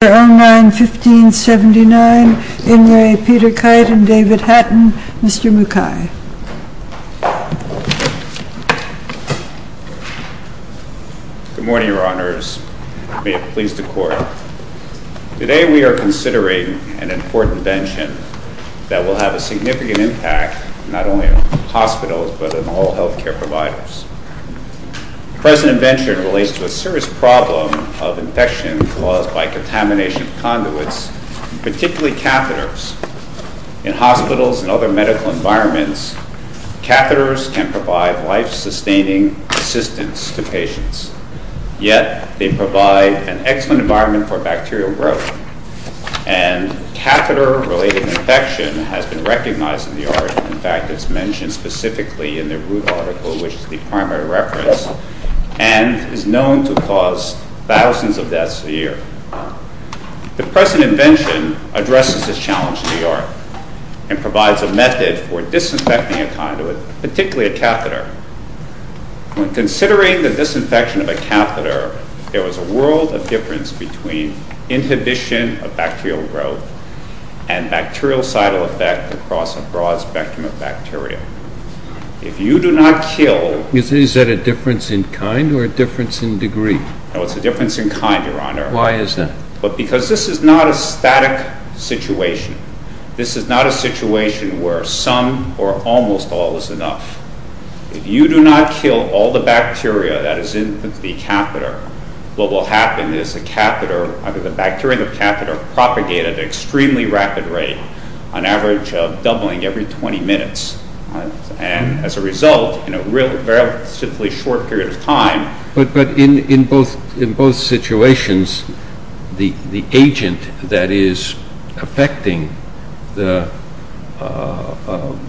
1579, Inouye Peter Kite and David Hatton, Mr. Mukai. Good morning, Your Honors. May it please the Court. Today we are considering an important invention that will have a significant impact not only on hospitals but on all health care providers. The present invention relates to a serious problem of infection caused by contamination of conduits, particularly catheters. In hospitals and other medical environments, catheters can provide life-sustaining assistance to patients. Yet, they provide an excellent environment for bacterial growth. And catheter-related infection has been recognized in the art. In fact, it's mentioned specifically in the Root article, which is the primary reference, and is known to cause thousands of deaths a year. The present invention addresses this challenge in the art and provides a method for disinfecting a conduit, particularly a catheter. When considering the disinfection of a catheter, there was a world of difference between inhibition of bacterial growth and bactericidal effect across a broad spectrum of bacteria. If you do not kill... Is that a difference in kind or a difference in degree? No, it's a difference in kind, Your Honor. Why is that? Because this is not a static situation. This is not a situation where some or almost all is enough. If you do not kill all the bacteria that is in the catheter, what will happen is the bacteria in the catheter propagate at an extremely rapid rate, an average of doubling every 20 minutes. And as a result, in a very simply short period of time... In both situations, the agent that is affecting the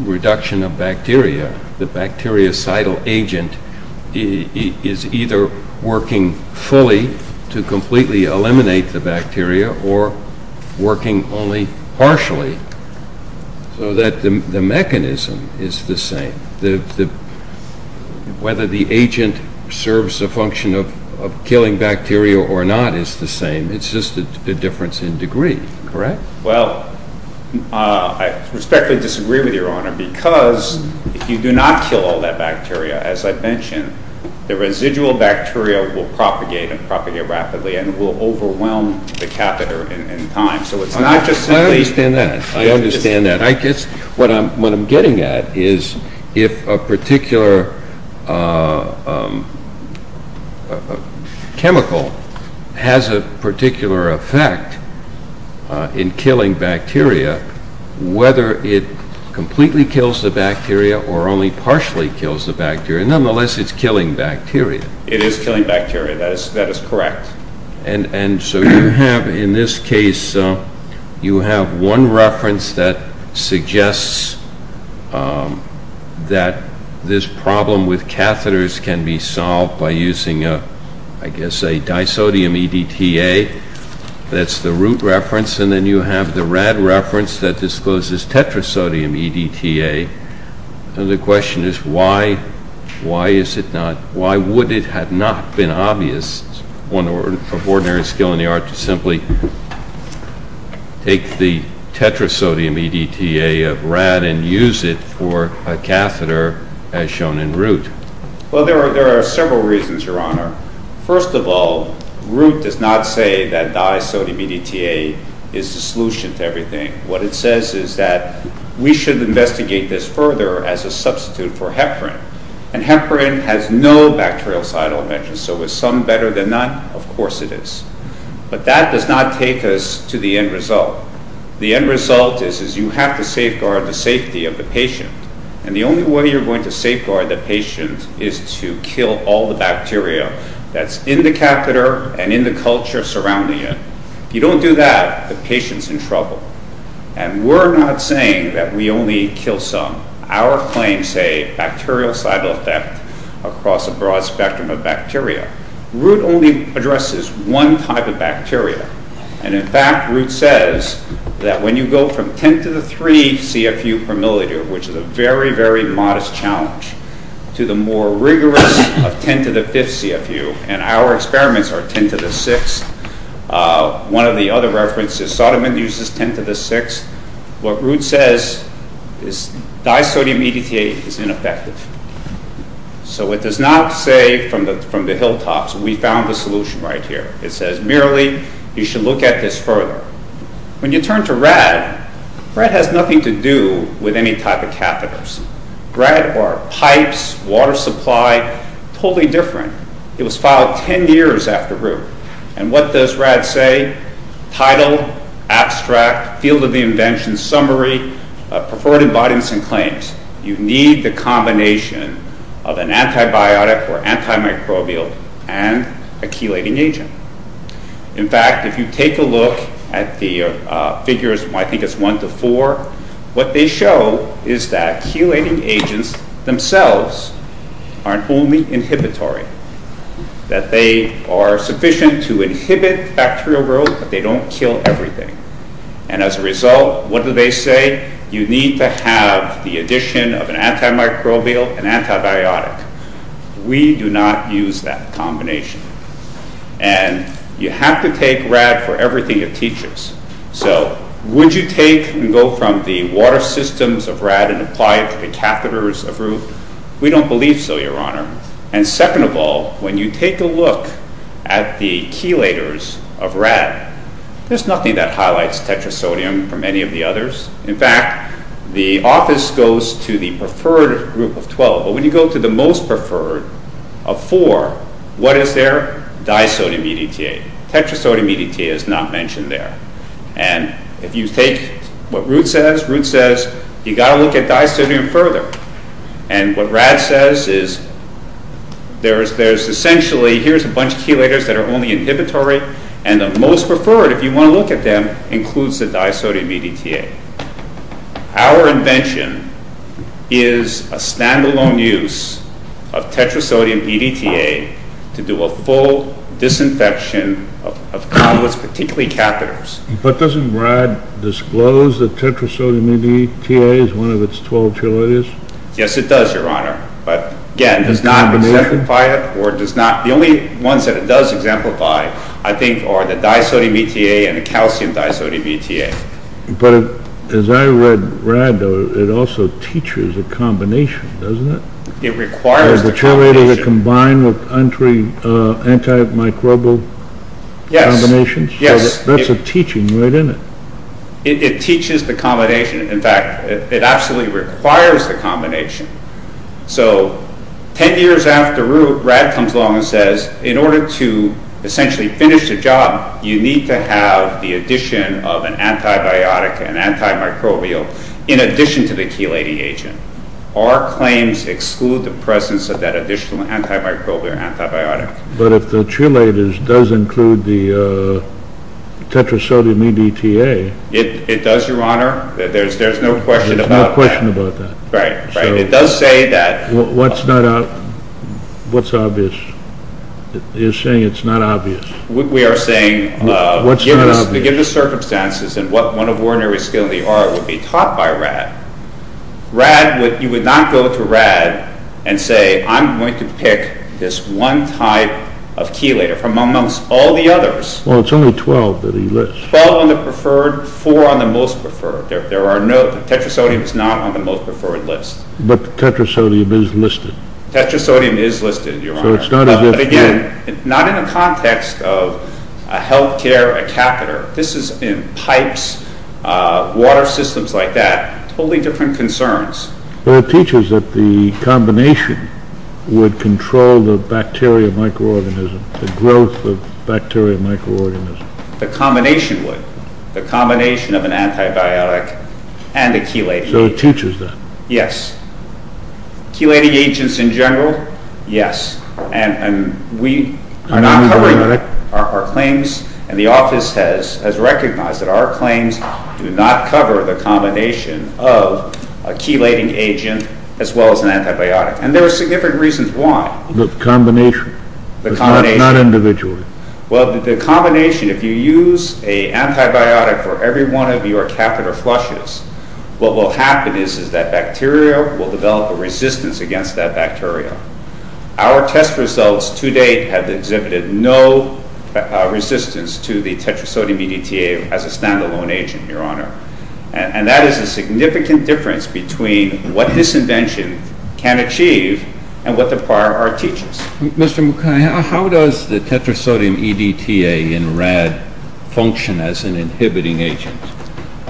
reduction of bacteria, the bactericidal agent, is either working fully to completely eliminate the bacteria or working only partially so that the mechanism is the same. Whether the agent serves the function of killing bacteria or not is the same. It's just a difference in degree, correct? Well, I respectfully disagree with you, Your Honor, because if you do not kill all that bacteria, as I've mentioned, the residual bacteria will propagate and propagate rapidly and will overwhelm the catheter in time. I understand that. I understand that. What I'm getting at is if a particular chemical has a particular effect in killing bacteria, whether it completely kills the bacteria or only partially kills the bacteria, nonetheless, it's killing bacteria. It is killing bacteria. That is correct. And so you have, in this case, you have one reference that suggests that this problem with catheters can be solved by using, I guess, a disodium EDTA. That's the root reference. And then you have the rad reference that discloses tetrasodium EDTA. The question is why is it not, why would it have not been obvious, one of ordinary skill in the art, to simply take the tetrasodium EDTA of rad and use it for a catheter as shown in Root? Well, there are several reasons, Your Honor. First of all, Root does not say that disodium EDTA is the solution to everything. What it says is that we should investigate this further as a substitute for heparin. And heparin has no bacterial side elements. So is some better than none? Of course it is. But that does not take us to the end result. The end result is you have to safeguard the safety of the patient. And the only way you're going to safeguard the patient is to kill all the bacteria that's in the catheter and in the culture surrounding it. If you don't do that, the patient's in trouble. And we're not saying that we only kill some. Our claims say bacterial side effect across a broad spectrum of bacteria. Root only addresses one type of bacteria. And in fact, Root says that when you go from 10 to the 3 CFU per milliliter, which is a very, very modest challenge, to the more rigorous of 10 to the 5th CFU, and our experiments are 10 to the 6th. One of the other references, Sodom uses 10 to the 6th. What Root says is disodium EDTA is ineffective. So it does not say from the hilltops, we found the solution right here. It says merely you should look at this further. When you turn to rad, rad has nothing to do with any type of catheters. Rad are pipes, water supply, totally different. It was filed 10 years after Root. And what does rad say? Title, abstract, field of the invention, summary, preferred embodiments and claims. You need the combination of an antibiotic or antimicrobial and a chelating agent. In fact, if you take a look at the figures, I think it's 1 to 4, what they show is that chelating agents themselves aren't only inhibitory, that they are sufficient to inhibit bacterial growth, but they don't kill everything. And as a result, what do they say? You need to have the addition of an antimicrobial and antibiotic. We do not use that combination. And you have to take rad for everything it teaches. So would you take and go from the water systems of rad and apply it to the catheters of Root? We don't believe so, Your Honor. And second of all, when you take a look at the chelators of rad, there's nothing that highlights tetrasodium from any of the others. In fact, the office goes to the preferred group of 12, but when you go to the most preferred of four, what is there? Disodium EDTA. Tetrasodium EDTA is not mentioned there. And if you take what Root says, Root says you've got to look at disodium further. And what rad says is there's essentially a bunch of chelators that are only inhibitory, and the most preferred, if you want to look at them, includes the disodium EDTA. Our invention is a stand-alone use of tetrasodium EDTA to do a full disinfection of conduits, particularly catheters. But doesn't rad disclose that tetrasodium EDTA is one of its 12 chelators? Yes, it does, Your Honor. But again, it does not exemplify it. The only ones that it does exemplify, I think, are the disodium EDTA and the calcium disodium EDTA. But as I read rad, it also teaches a combination, doesn't it? It requires the combination. The chelators are combined with antimicrobial combinations? Yes. That's a teaching, right, isn't it? It teaches the combination. In fact, it absolutely requires the combination. So 10 years after Root, rad comes along and says, in order to essentially finish the job, you need to have the addition of an antibiotic, an antimicrobial, in addition to the chelating agent. Our claims exclude the presence of that additional antimicrobial antibiotic. But if the chelators does include the tetrasodium EDTA. It does, Your Honor. There's no question about that. There's no question about that. Right, right. What's obvious? You're saying it's not obvious. We are saying, given the circumstances and what one of ordinary skill in the art would be taught by rad, you would not go to rad and say, I'm going to pick this one type of chelator from amongst all the others. Well, it's only 12 that he lists. 12 on the preferred, 4 on the most preferred. There are no, tetrasodium is not on the most preferred list. But tetrasodium is listed. Tetrasodium is listed, Your Honor. So it's not as if. But again, not in the context of a health care, a catheter. This is in pipes, water systems like that. Totally different concerns. Well, it teaches that the combination would control the bacteria microorganism, the growth of bacteria microorganism. The combination would. The combination of an antibiotic and a chelating agent. So it teaches that. Yes. Chelating agents in general, yes. And we are not covering our claims. And the office has recognized that our claims do not cover the combination of a chelating agent as well as an antibiotic. And there are significant reasons why. The combination. The combination. Not individually. Well, the combination, if you use an antibiotic for every one of your catheter flushes, what will happen is that bacteria will develop a resistance against that bacteria. Our test results to date have exhibited no resistance to the tetrasodium EDTA as a stand-alone agent, Your Honor. And that is a significant difference between what this invention can achieve and what the prior art teaches. Mr. Mukai, how does the tetrasodium EDTA in RAD function as an inhibiting agent?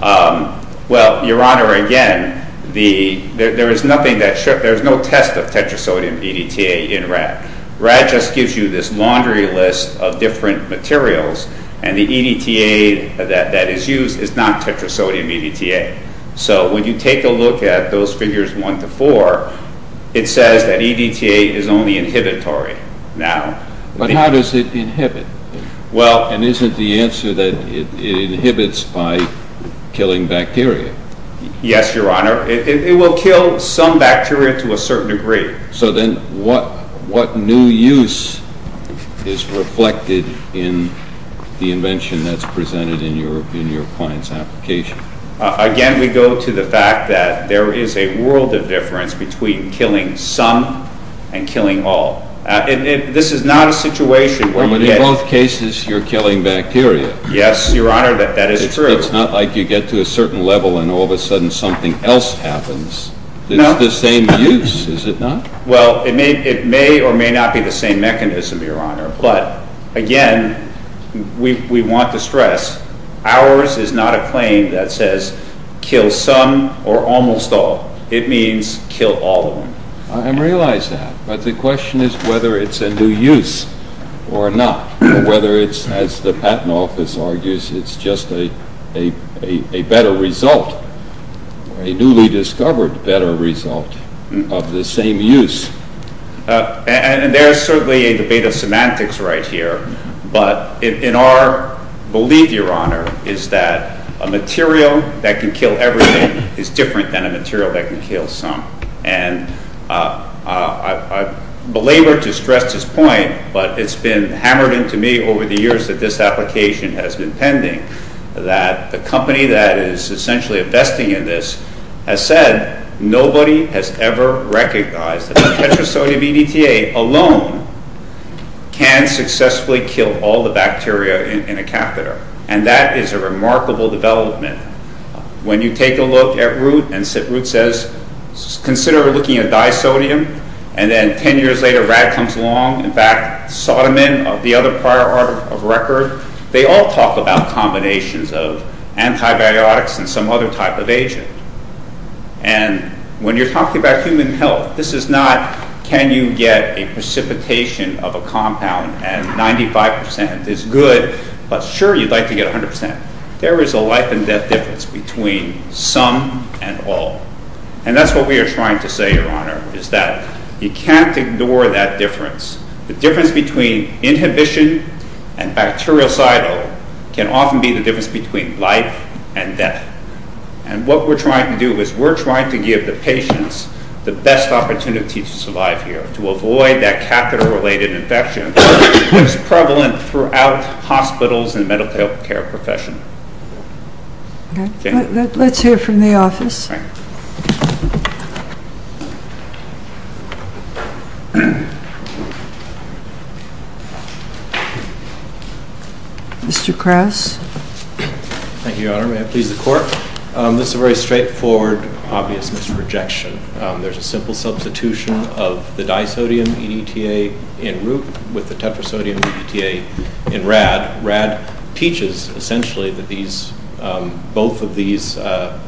Well, Your Honor, again, there is no test of tetrasodium EDTA in RAD. RAD just gives you this laundry list of different materials, and the EDTA that is used is not tetrasodium EDTA. So when you take a look at those figures one to four, it says that EDTA is only inhibitory. But how does it inhibit? And isn't the answer that it inhibits by killing bacteria? Yes, Your Honor. It will kill some bacteria to a certain degree. So then what new use is reflected in the invention that's presented in your client's application? Again, we go to the fact that there is a world of difference between killing some and killing all. This is not a situation where you get... But in both cases, you're killing bacteria. Yes, Your Honor, that is true. It's not like you get to a certain level and all of a sudden something else happens. It's the same use, is it not? Well, it may or may not be the same mechanism, Your Honor. But, again, we want to stress ours is not a claim that says kill some or almost all. It means kill all of them. I realize that. But the question is whether it's a new use or not. Whether it's, as the Patent Office argues, it's just a better result, a newly discovered better result of the same use. And there is certainly a debate of semantics right here. But in our belief, Your Honor, is that a material that can kill everything is different than a material that can kill some. And I belabor to stress this point, but it's been hammered into me over the years that this application has been pending, that the company that is essentially investing in this has said, nobody has ever recognized that a tetrasodium EDTA alone can successfully kill all the bacteria in a catheter. And that is a remarkable development. When you take a look at Root, and Root says, consider looking at disodium, and then 10 years later Rad comes along, in fact, Sodom and the other prior art of record, they all talk about combinations of antibiotics and some other type of agent. And when you're talking about human health, this is not can you get a precipitation of a compound and 95% is good, but sure, you'd like to get 100%. There is a life and death difference between some and all. And that's what we are trying to say, Your Honor, is that you can't ignore that difference. The difference between inhibition and bactericidal can often be the difference between life and death. And what we're trying to do is we're trying to give the patients the best opportunity to survive here, to avoid that catheter-related infection that's prevalent throughout hospitals and the medical care profession. Okay. Let's hear from the office. Mr. Krauss. Thank you, Your Honor. May it please the Court? This is a very straightforward, obvious misprojection. There's a simple substitution of the disodium in ETA in Root with the tetrasodium in ETA in Rad. Rad teaches, essentially, that both of these disodium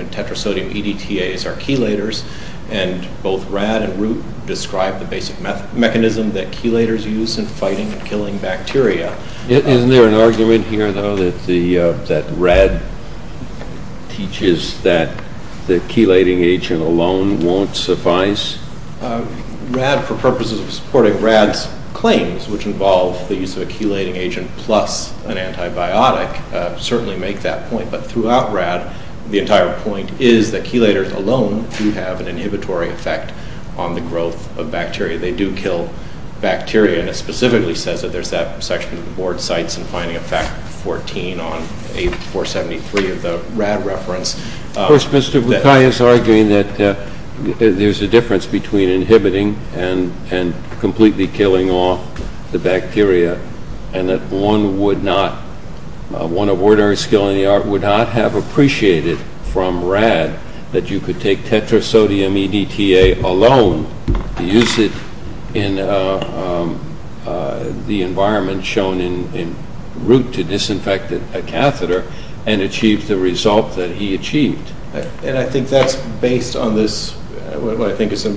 and tetrasodium EDTAs are chelators, and both Rad and Root describe the basic mechanism that chelators use in fighting and killing bacteria. Isn't there an argument here, though, that Rad teaches that the chelating agent alone won't suffice? Rad, for purposes of supporting Rad's claims, which involve the use of a chelating agent plus an antibiotic, certainly make that point. But throughout Rad, the entire point is that chelators alone do have an inhibitory effect on the growth of bacteria. They do kill bacteria, and it specifically says that. There's that section of the Board's CITES in Finding Effect 14 on 8473 of the Rad reference. Of course, Mr. Bukai is arguing that there's a difference between inhibiting and completely killing off the bacteria, and that one of ordinary skill in the art would not have appreciated from Rad that you could take tetrasodium EDTA alone and use it in the environment shown in Root to disinfect a catheter and achieve the result that he achieved. And I think that's based on what I think is a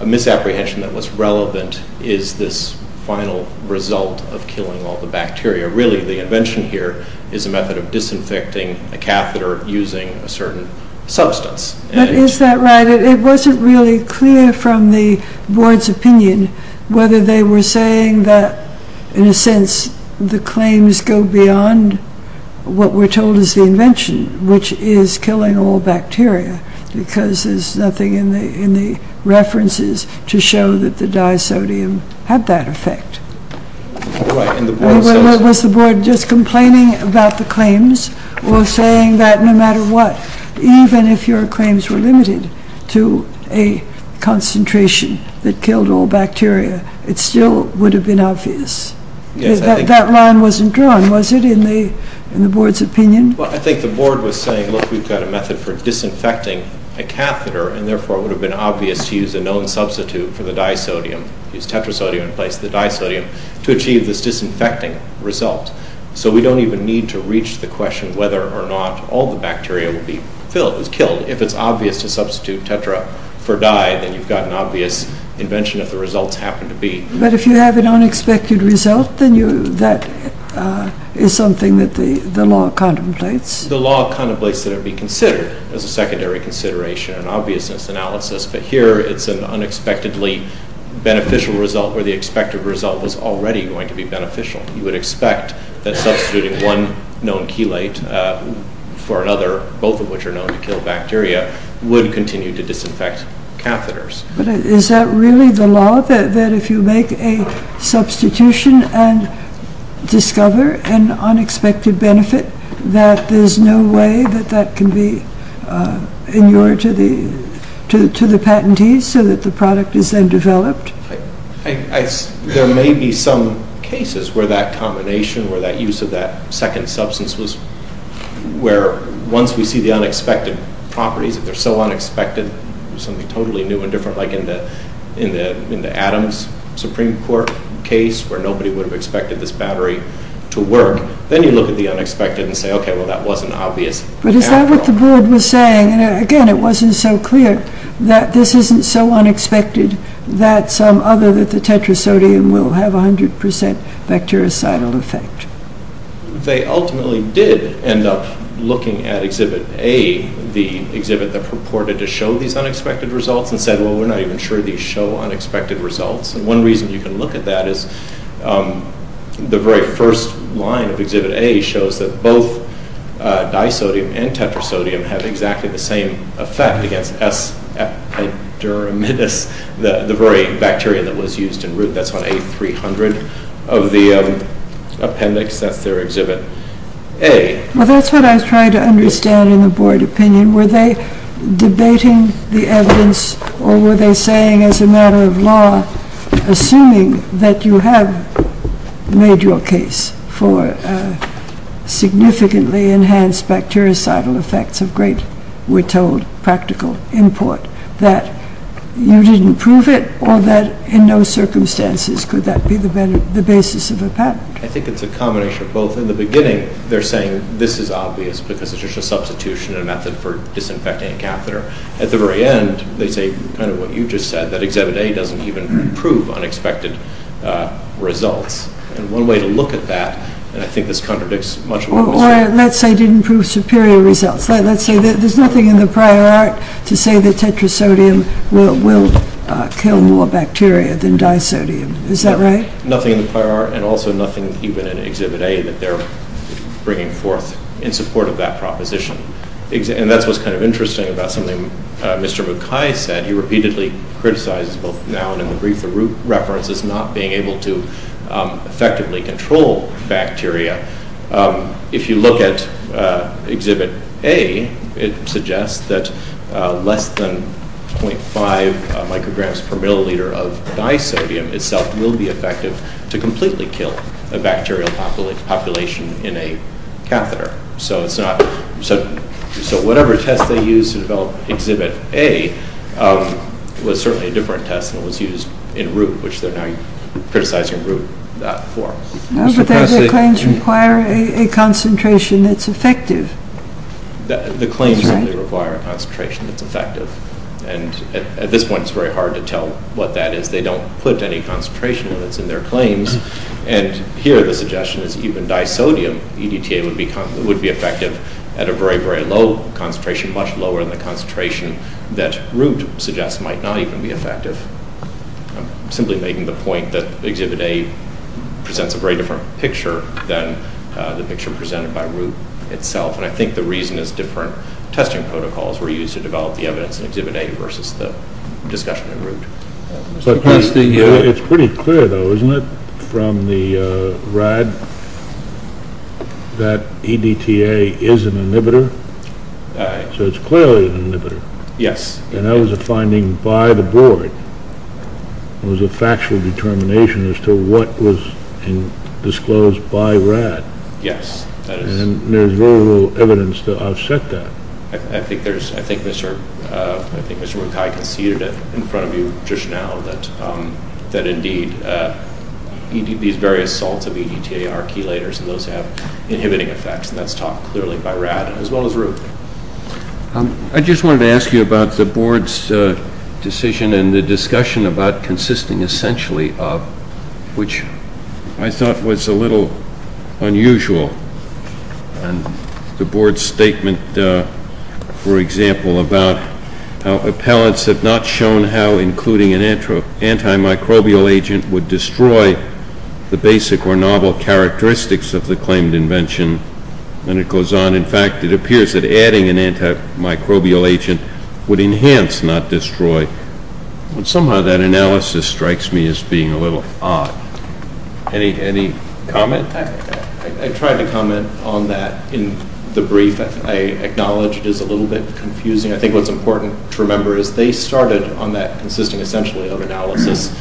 misapprehension that what's relevant is this final result of killing all the bacteria. Really, the invention here is a method of disinfecting a catheter using a certain substance. But is that right? It wasn't really clear from the Board's opinion whether they were saying that, in a sense, the claims go beyond what we're told is the invention, which is killing all bacteria, because there's nothing in the references to show that the disodium had that effect. Was the Board just complaining about the claims or saying that no matter what, even if your claims were limited to a concentration that killed all bacteria, it still would have been obvious? That line wasn't drawn, was it, in the Board's opinion? I think the Board was saying, look, we've got a method for disinfecting a catheter, and therefore it would have been obvious to use a known substitute for the disodium, use tetrasodium in place of the disodium, to achieve this disinfecting result. So we don't even need to reach the question whether or not all the bacteria is killed. If it's obvious to substitute tetra for dye, then you've got an obvious invention if the results happen to be. But if you have an unexpected result, then that is something that the law contemplates. The law contemplates that it be considered as a secondary consideration, an obviousness analysis. But here it's an unexpectedly beneficial result where the expected result is already going to be beneficial. You would expect that substituting one known chelate for another, both of which are known to kill bacteria, would continue to disinfect catheters. But is that really the law, that if you make a substitution and discover an unexpected benefit, that there's no way that that can be inured to the patentee so that the product is then developed? There may be some cases where that combination, where that use of that second substance, where once we see the unexpected properties, if they're so unexpected, something totally new and different like in the Adams Supreme Court case, where nobody would have expected this battery to work, then you look at the unexpected and say, OK, well that wasn't obvious. But is that what the board was saying? Again, it wasn't so clear that this isn't so unexpected that some other than the tetrasodium will have 100% bactericidal effect. They ultimately did end up looking at Exhibit A, the exhibit that purported to show these unexpected results, and said, well, we're not even sure these show unexpected results. And one reason you can look at that is the very first line of Exhibit A shows that both disodium and tetrasodium have exactly the same effect against S. epidermidis, the very bacteria that was used in root. That's on A300 of the appendix. That's their exhibit. Well, that's what I was trying to understand in the board opinion. Were they debating the evidence, or were they saying as a matter of law, assuming that you have made your case for significantly enhanced bactericidal effects of great, we're told, practical import, that you didn't prove it, or that in no circumstances could that be the basis of a patent? I think it's a combination of both. In the beginning, they're saying this is obvious because it's just a substitution and a method for disinfecting a catheter. At the very end, they say kind of what you just said, that Exhibit A doesn't even prove unexpected results. And one way to look at that, and I think this contradicts much of what was said. Or let's say it didn't prove superior results. Let's say there's nothing in the prior art to say that tetrasodium will kill more bacteria than disodium. Is that right? Nothing in the prior art, and also nothing even in Exhibit A that they're bringing forth in support of that proposition. And that's what's kind of interesting about something Mr. Mukai said. He repeatedly criticizes both now and in the brief the root reference as not being able to effectively control bacteria. If you look at Exhibit A, it suggests that less than 0.5 micrograms per milliliter of disodium itself will be effective to completely kill a bacterial population in a catheter. So whatever test they used to develop Exhibit A was certainly a different test than what was used in root, which they're now criticizing root for. No, but their claims require a concentration that's effective. The claims only require a concentration that's effective. And at this point, it's very hard to tell what that is. They don't put any concentration limits in their claims. And here the suggestion is even disodium EDTA would be effective at a very, very low concentration, much lower than the concentration that root suggests might not even be effective. I'm simply making the point that Exhibit A presents a very different picture than the picture presented by root itself. And I think the reason is different testing protocols were used to develop the evidence in Exhibit A versus the discussion in root. It's pretty clear, though, isn't it, from the RAD that EDTA is an inhibitor? So it's clearly an inhibitor. Yes. And that was a finding by the board. It was a factual determination as to what was disclosed by RAD. Yes. And there's very little evidence to offset that. I think Mr. Mukai conceded in front of you just now that, indeed, these various salts of EDTA are chelators and those have inhibiting effects, and that's taught clearly by RAD as well as root. I just wanted to ask you about the board's decision and the discussion about consisting essentially of, which I thought was a little unusual, and the board's statement, for example, about how appellants have not shown how including an antimicrobial agent would destroy the basic or novel characteristics of the claimed invention. And it goes on, in fact, it appears that adding an antimicrobial agent would enhance, not destroy. Somehow that analysis strikes me as being a little odd. Any comment? I tried to comment on that in the brief. I acknowledge it is a little bit confusing. I think what's important to remember is they started on that consisting essentially of analysis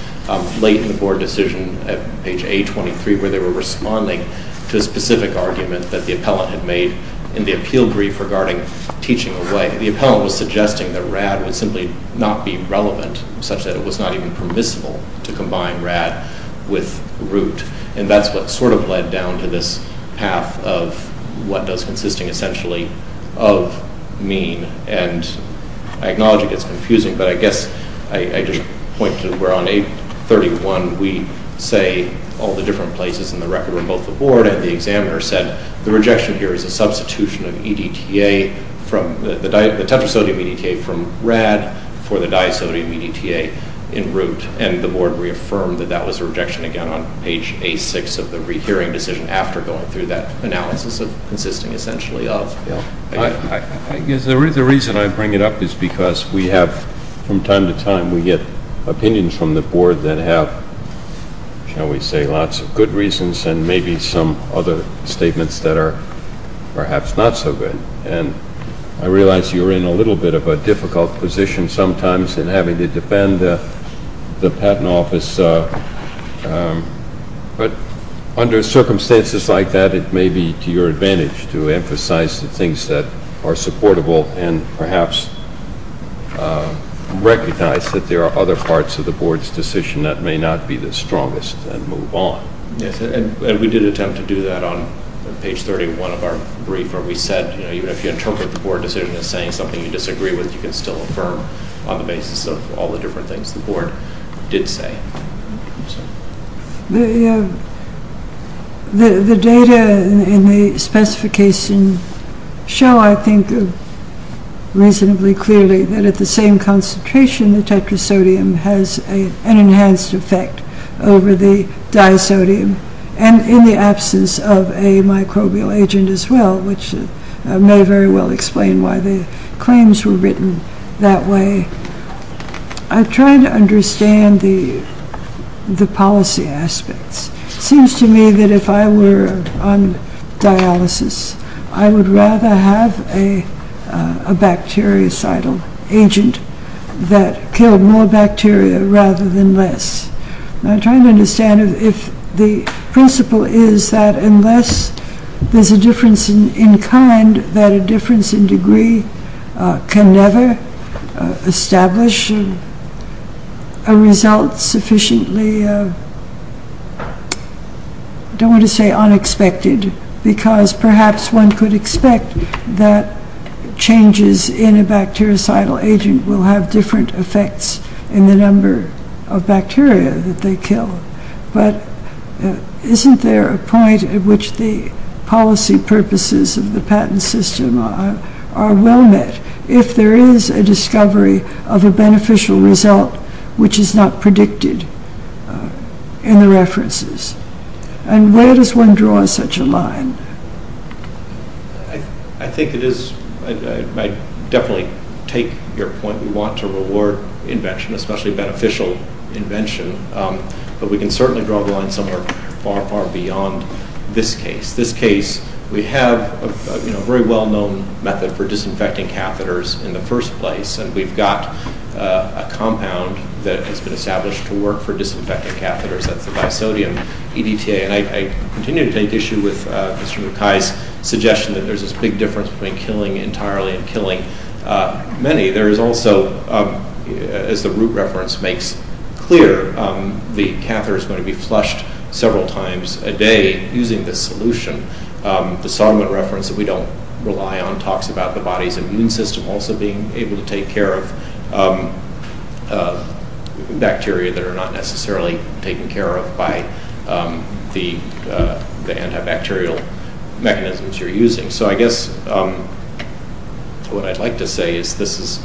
late in the board decision at page A23 where they were responding to a specific argument that the appellant had made in the appeal brief regarding teaching away. The appellant was suggesting that RAD would simply not be relevant, such that it was not even permissible to combine RAD with root, and that's what sort of led down to this path of what does consisting essentially of mean. And I acknowledge it gets confusing, but I guess I just point to where on A31 we say all the different places in the record where both the board and the examiner said the rejection here is a substitution of EDTA, the tetrasodium EDTA from RAD for the disodium EDTA in root, and the board reaffirmed that that was a rejection again on page A6 of the rehearing decision after going through that analysis of consisting essentially of EDTA. I guess the reason I bring it up is because we have from time to time, we get opinions from the board that have, shall we say, lots of good reasons and maybe some other statements that are perhaps not so good. And I realize you're in a little bit of a difficult position sometimes in having to defend the patent office, but under circumstances like that, it may be to your advantage to emphasize the things that are supportable and perhaps recognize that there are other parts of the board's decision that may not be the strongest and move on. Yes, and we did attempt to do that on page 31 of our brief where we said even if you interpret the board decision as saying something you disagree with, you can still affirm on the basis of all the different things the board did say. The data in the specification show, I think, reasonably clearly that at the same concentration the tetrasodium has an enhanced effect over the disodium and in the absence of a microbial agent as well, which may very well explain why the claims were written that way. I'm trying to understand the policy aspects. It seems to me that if I were on dialysis, I would rather have a bactericidal agent that killed more bacteria rather than less. I'm trying to understand if the principle is that unless there's a difference in kind, that a difference in degree can never establish a result sufficiently, I don't want to say unexpected, because perhaps one could expect that changes in a bactericidal agent will have different effects in the number of bacteria that they kill. But isn't there a point at which the policy purposes of the patent system are well met if there is a discovery of a beneficial result which is not predicted in the references? And where does one draw such a line? I definitely take your point. We want to reward invention, especially beneficial invention, but we can certainly draw the line somewhere far, far beyond this case. This case, we have a very well-known method for disinfecting catheters in the first place, and we've got a compound that has been established to work for disinfecting catheters. That's the bisodium EDTA. And I continue to take issue with Mr. Mukai's suggestion that there's this big difference between killing entirely and killing many. There is also, as the root reference makes clear, the catheter is going to be flushed several times a day using this solution. The Solomon reference that we don't rely on talks about the body's immune system also being able to take care of bacteria that are not necessarily taken care of by the antibacterial mechanisms you're using. So I guess what I'd like to say is this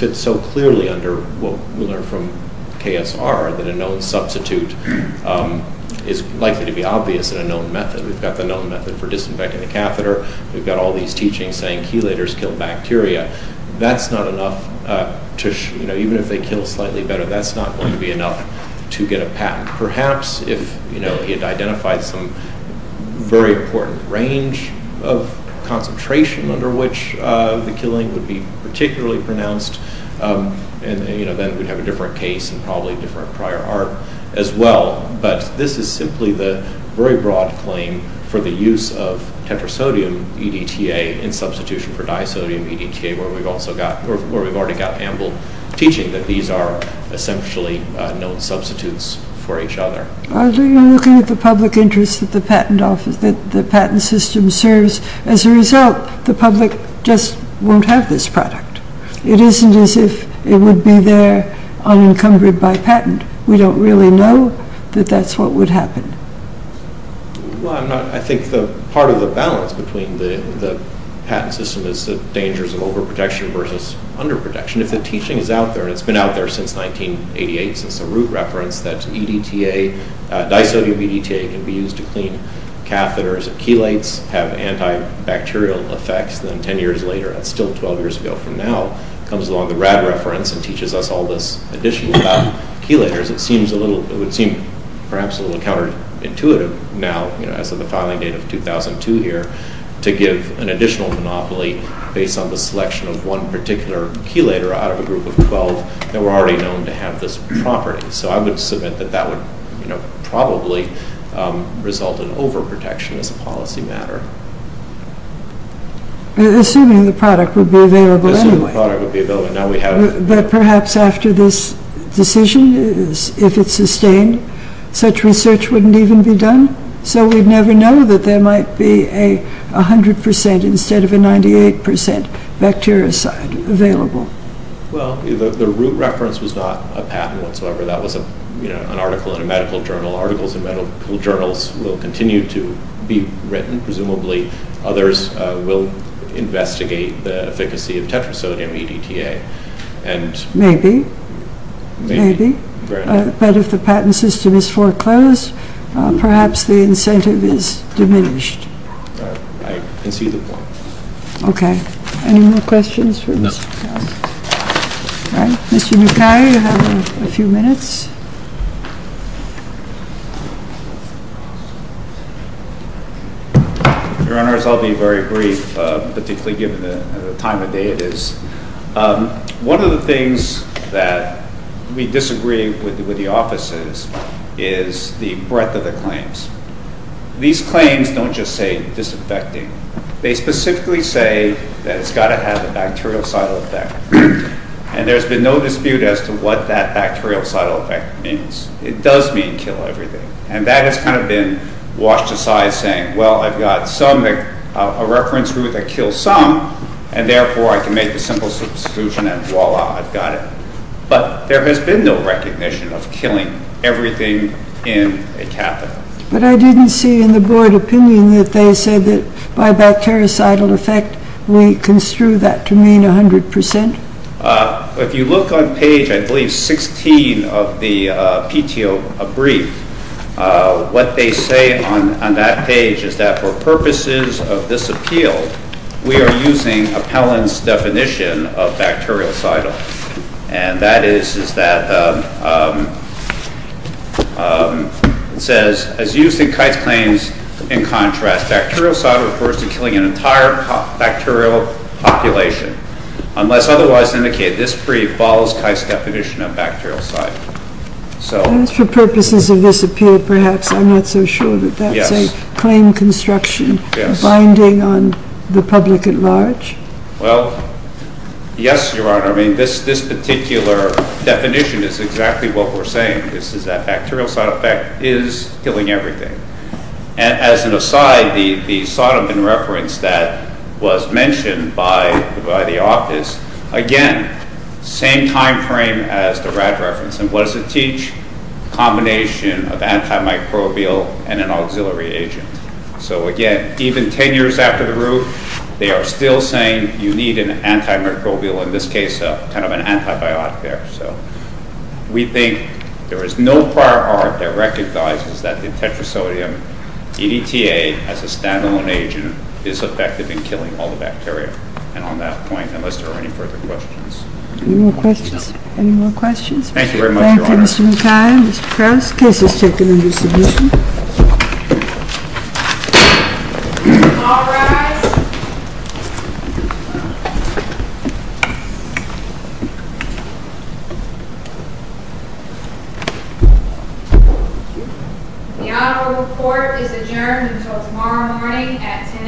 fits so clearly under what we learned from KSR that a known substitute is likely to be obvious in a known method. We've got the known method for disinfecting the catheter. We've got all these teachings saying chelators kill bacteria. That's not enough. Even if they kill slightly better, that's not going to be enough to get a patent. Perhaps if he had identified some very important range of concentration under which the killing would be particularly pronounced, then we'd have a different case and probably a different prior art as well. But this is simply the very broad claim for the use of tetrasodium EDTA in substitution for disodium EDTA where we've already got ample teaching that these are essentially known substitutes for each other. Are you looking at the public interest that the patent system serves? As a result, the public just won't have this product. It isn't as if it would be there unencumbered by patent. We don't really know that that's what would happen. I think part of the balance between the patent system is the dangers of overprotection versus underprotection. If the teaching is out there, and it's been out there since 1988, since the root reference that disodium EDTA can be used to clean catheters and chelates have antibacterial effects, then 10 years later, that's still 12 years ago from now, comes along the RAD reference and teaches us all this additional about chelators, it would seem perhaps a little counterintuitive now, as of the filing date of 2002 here, to give an additional monopoly based on the selection of one particular chelator out of a group of 12 that were already known to have this property. So I would submit that that would probably result in overprotection as a policy matter. Assuming the product would be available anyway. Assuming the product would be available. But perhaps after this decision, if it's sustained, such research wouldn't even be done? So we'd never know that there might be a 100% instead of a 98% bactericide available. Well, the root reference was not a patent whatsoever. That was an article in a medical journal. Articles in medical journals will continue to be written, presumably. Others will investigate the efficacy of tetrasodium EDTA. Maybe. Maybe. But if the patent system is foreclosed, perhaps the incentive is diminished. I concede the point. Okay. Any more questions? No. Mr. Mukai, you have a few minutes. Your Honors, I'll be very brief, particularly given the time of day it is. One of the things that we disagree with the offices is the breadth of the claims. These claims don't just say disinfecting. They specifically say that it's got to have a bactericidal effect. And there's been no dispute as to what that bactericidal effect means. It does mean kill everything. And that has kind of been washed aside, saying, well, I've got a reference group that kills some, and therefore I can make a simple solution and voila, I've got it. But there has been no recognition of killing everything in a catheter. But I didn't see in the board opinion that they said that by bactericidal effect, we construe that to mean 100%. If you look on page, I believe, 16 of the PTO brief, what they say on that page is that for purposes of this appeal, we are using Appellant's definition of bactericidal. And that is that it says, as used in Kite's claims, in contrast, bactericidal refers to killing an entire bacterial population, unless otherwise indicated. This brief follows Kite's definition of bactericidal. And for purposes of this appeal, perhaps, I'm not so sure that that's a claim construction, binding on the public at large. Well, yes, Your Honor. I mean, this particular definition is exactly what we're saying. This is that bactericidal effect is killing everything. As an aside, the Sodom in reference that was mentioned by the office, again, same time frame as the RAD reference. And what does it teach? Combination of antimicrobial and an auxiliary agent. So, again, even 10 years after the roof, they are still saying you need an antimicrobial, in this case, kind of an antibiotic there. So we think there is no prior art that recognizes that the tetrasodium EDTA, as a standalone agent, is effective in killing all the bacteria. And on that point, unless there are any further questions. Any more questions? Thank you very much, Your Honor. Thank you, Mr. McKay. Mr. Krauss, case is taken into submission. All rise. The honorable court is adjourned until tomorrow morning at 10 a.m.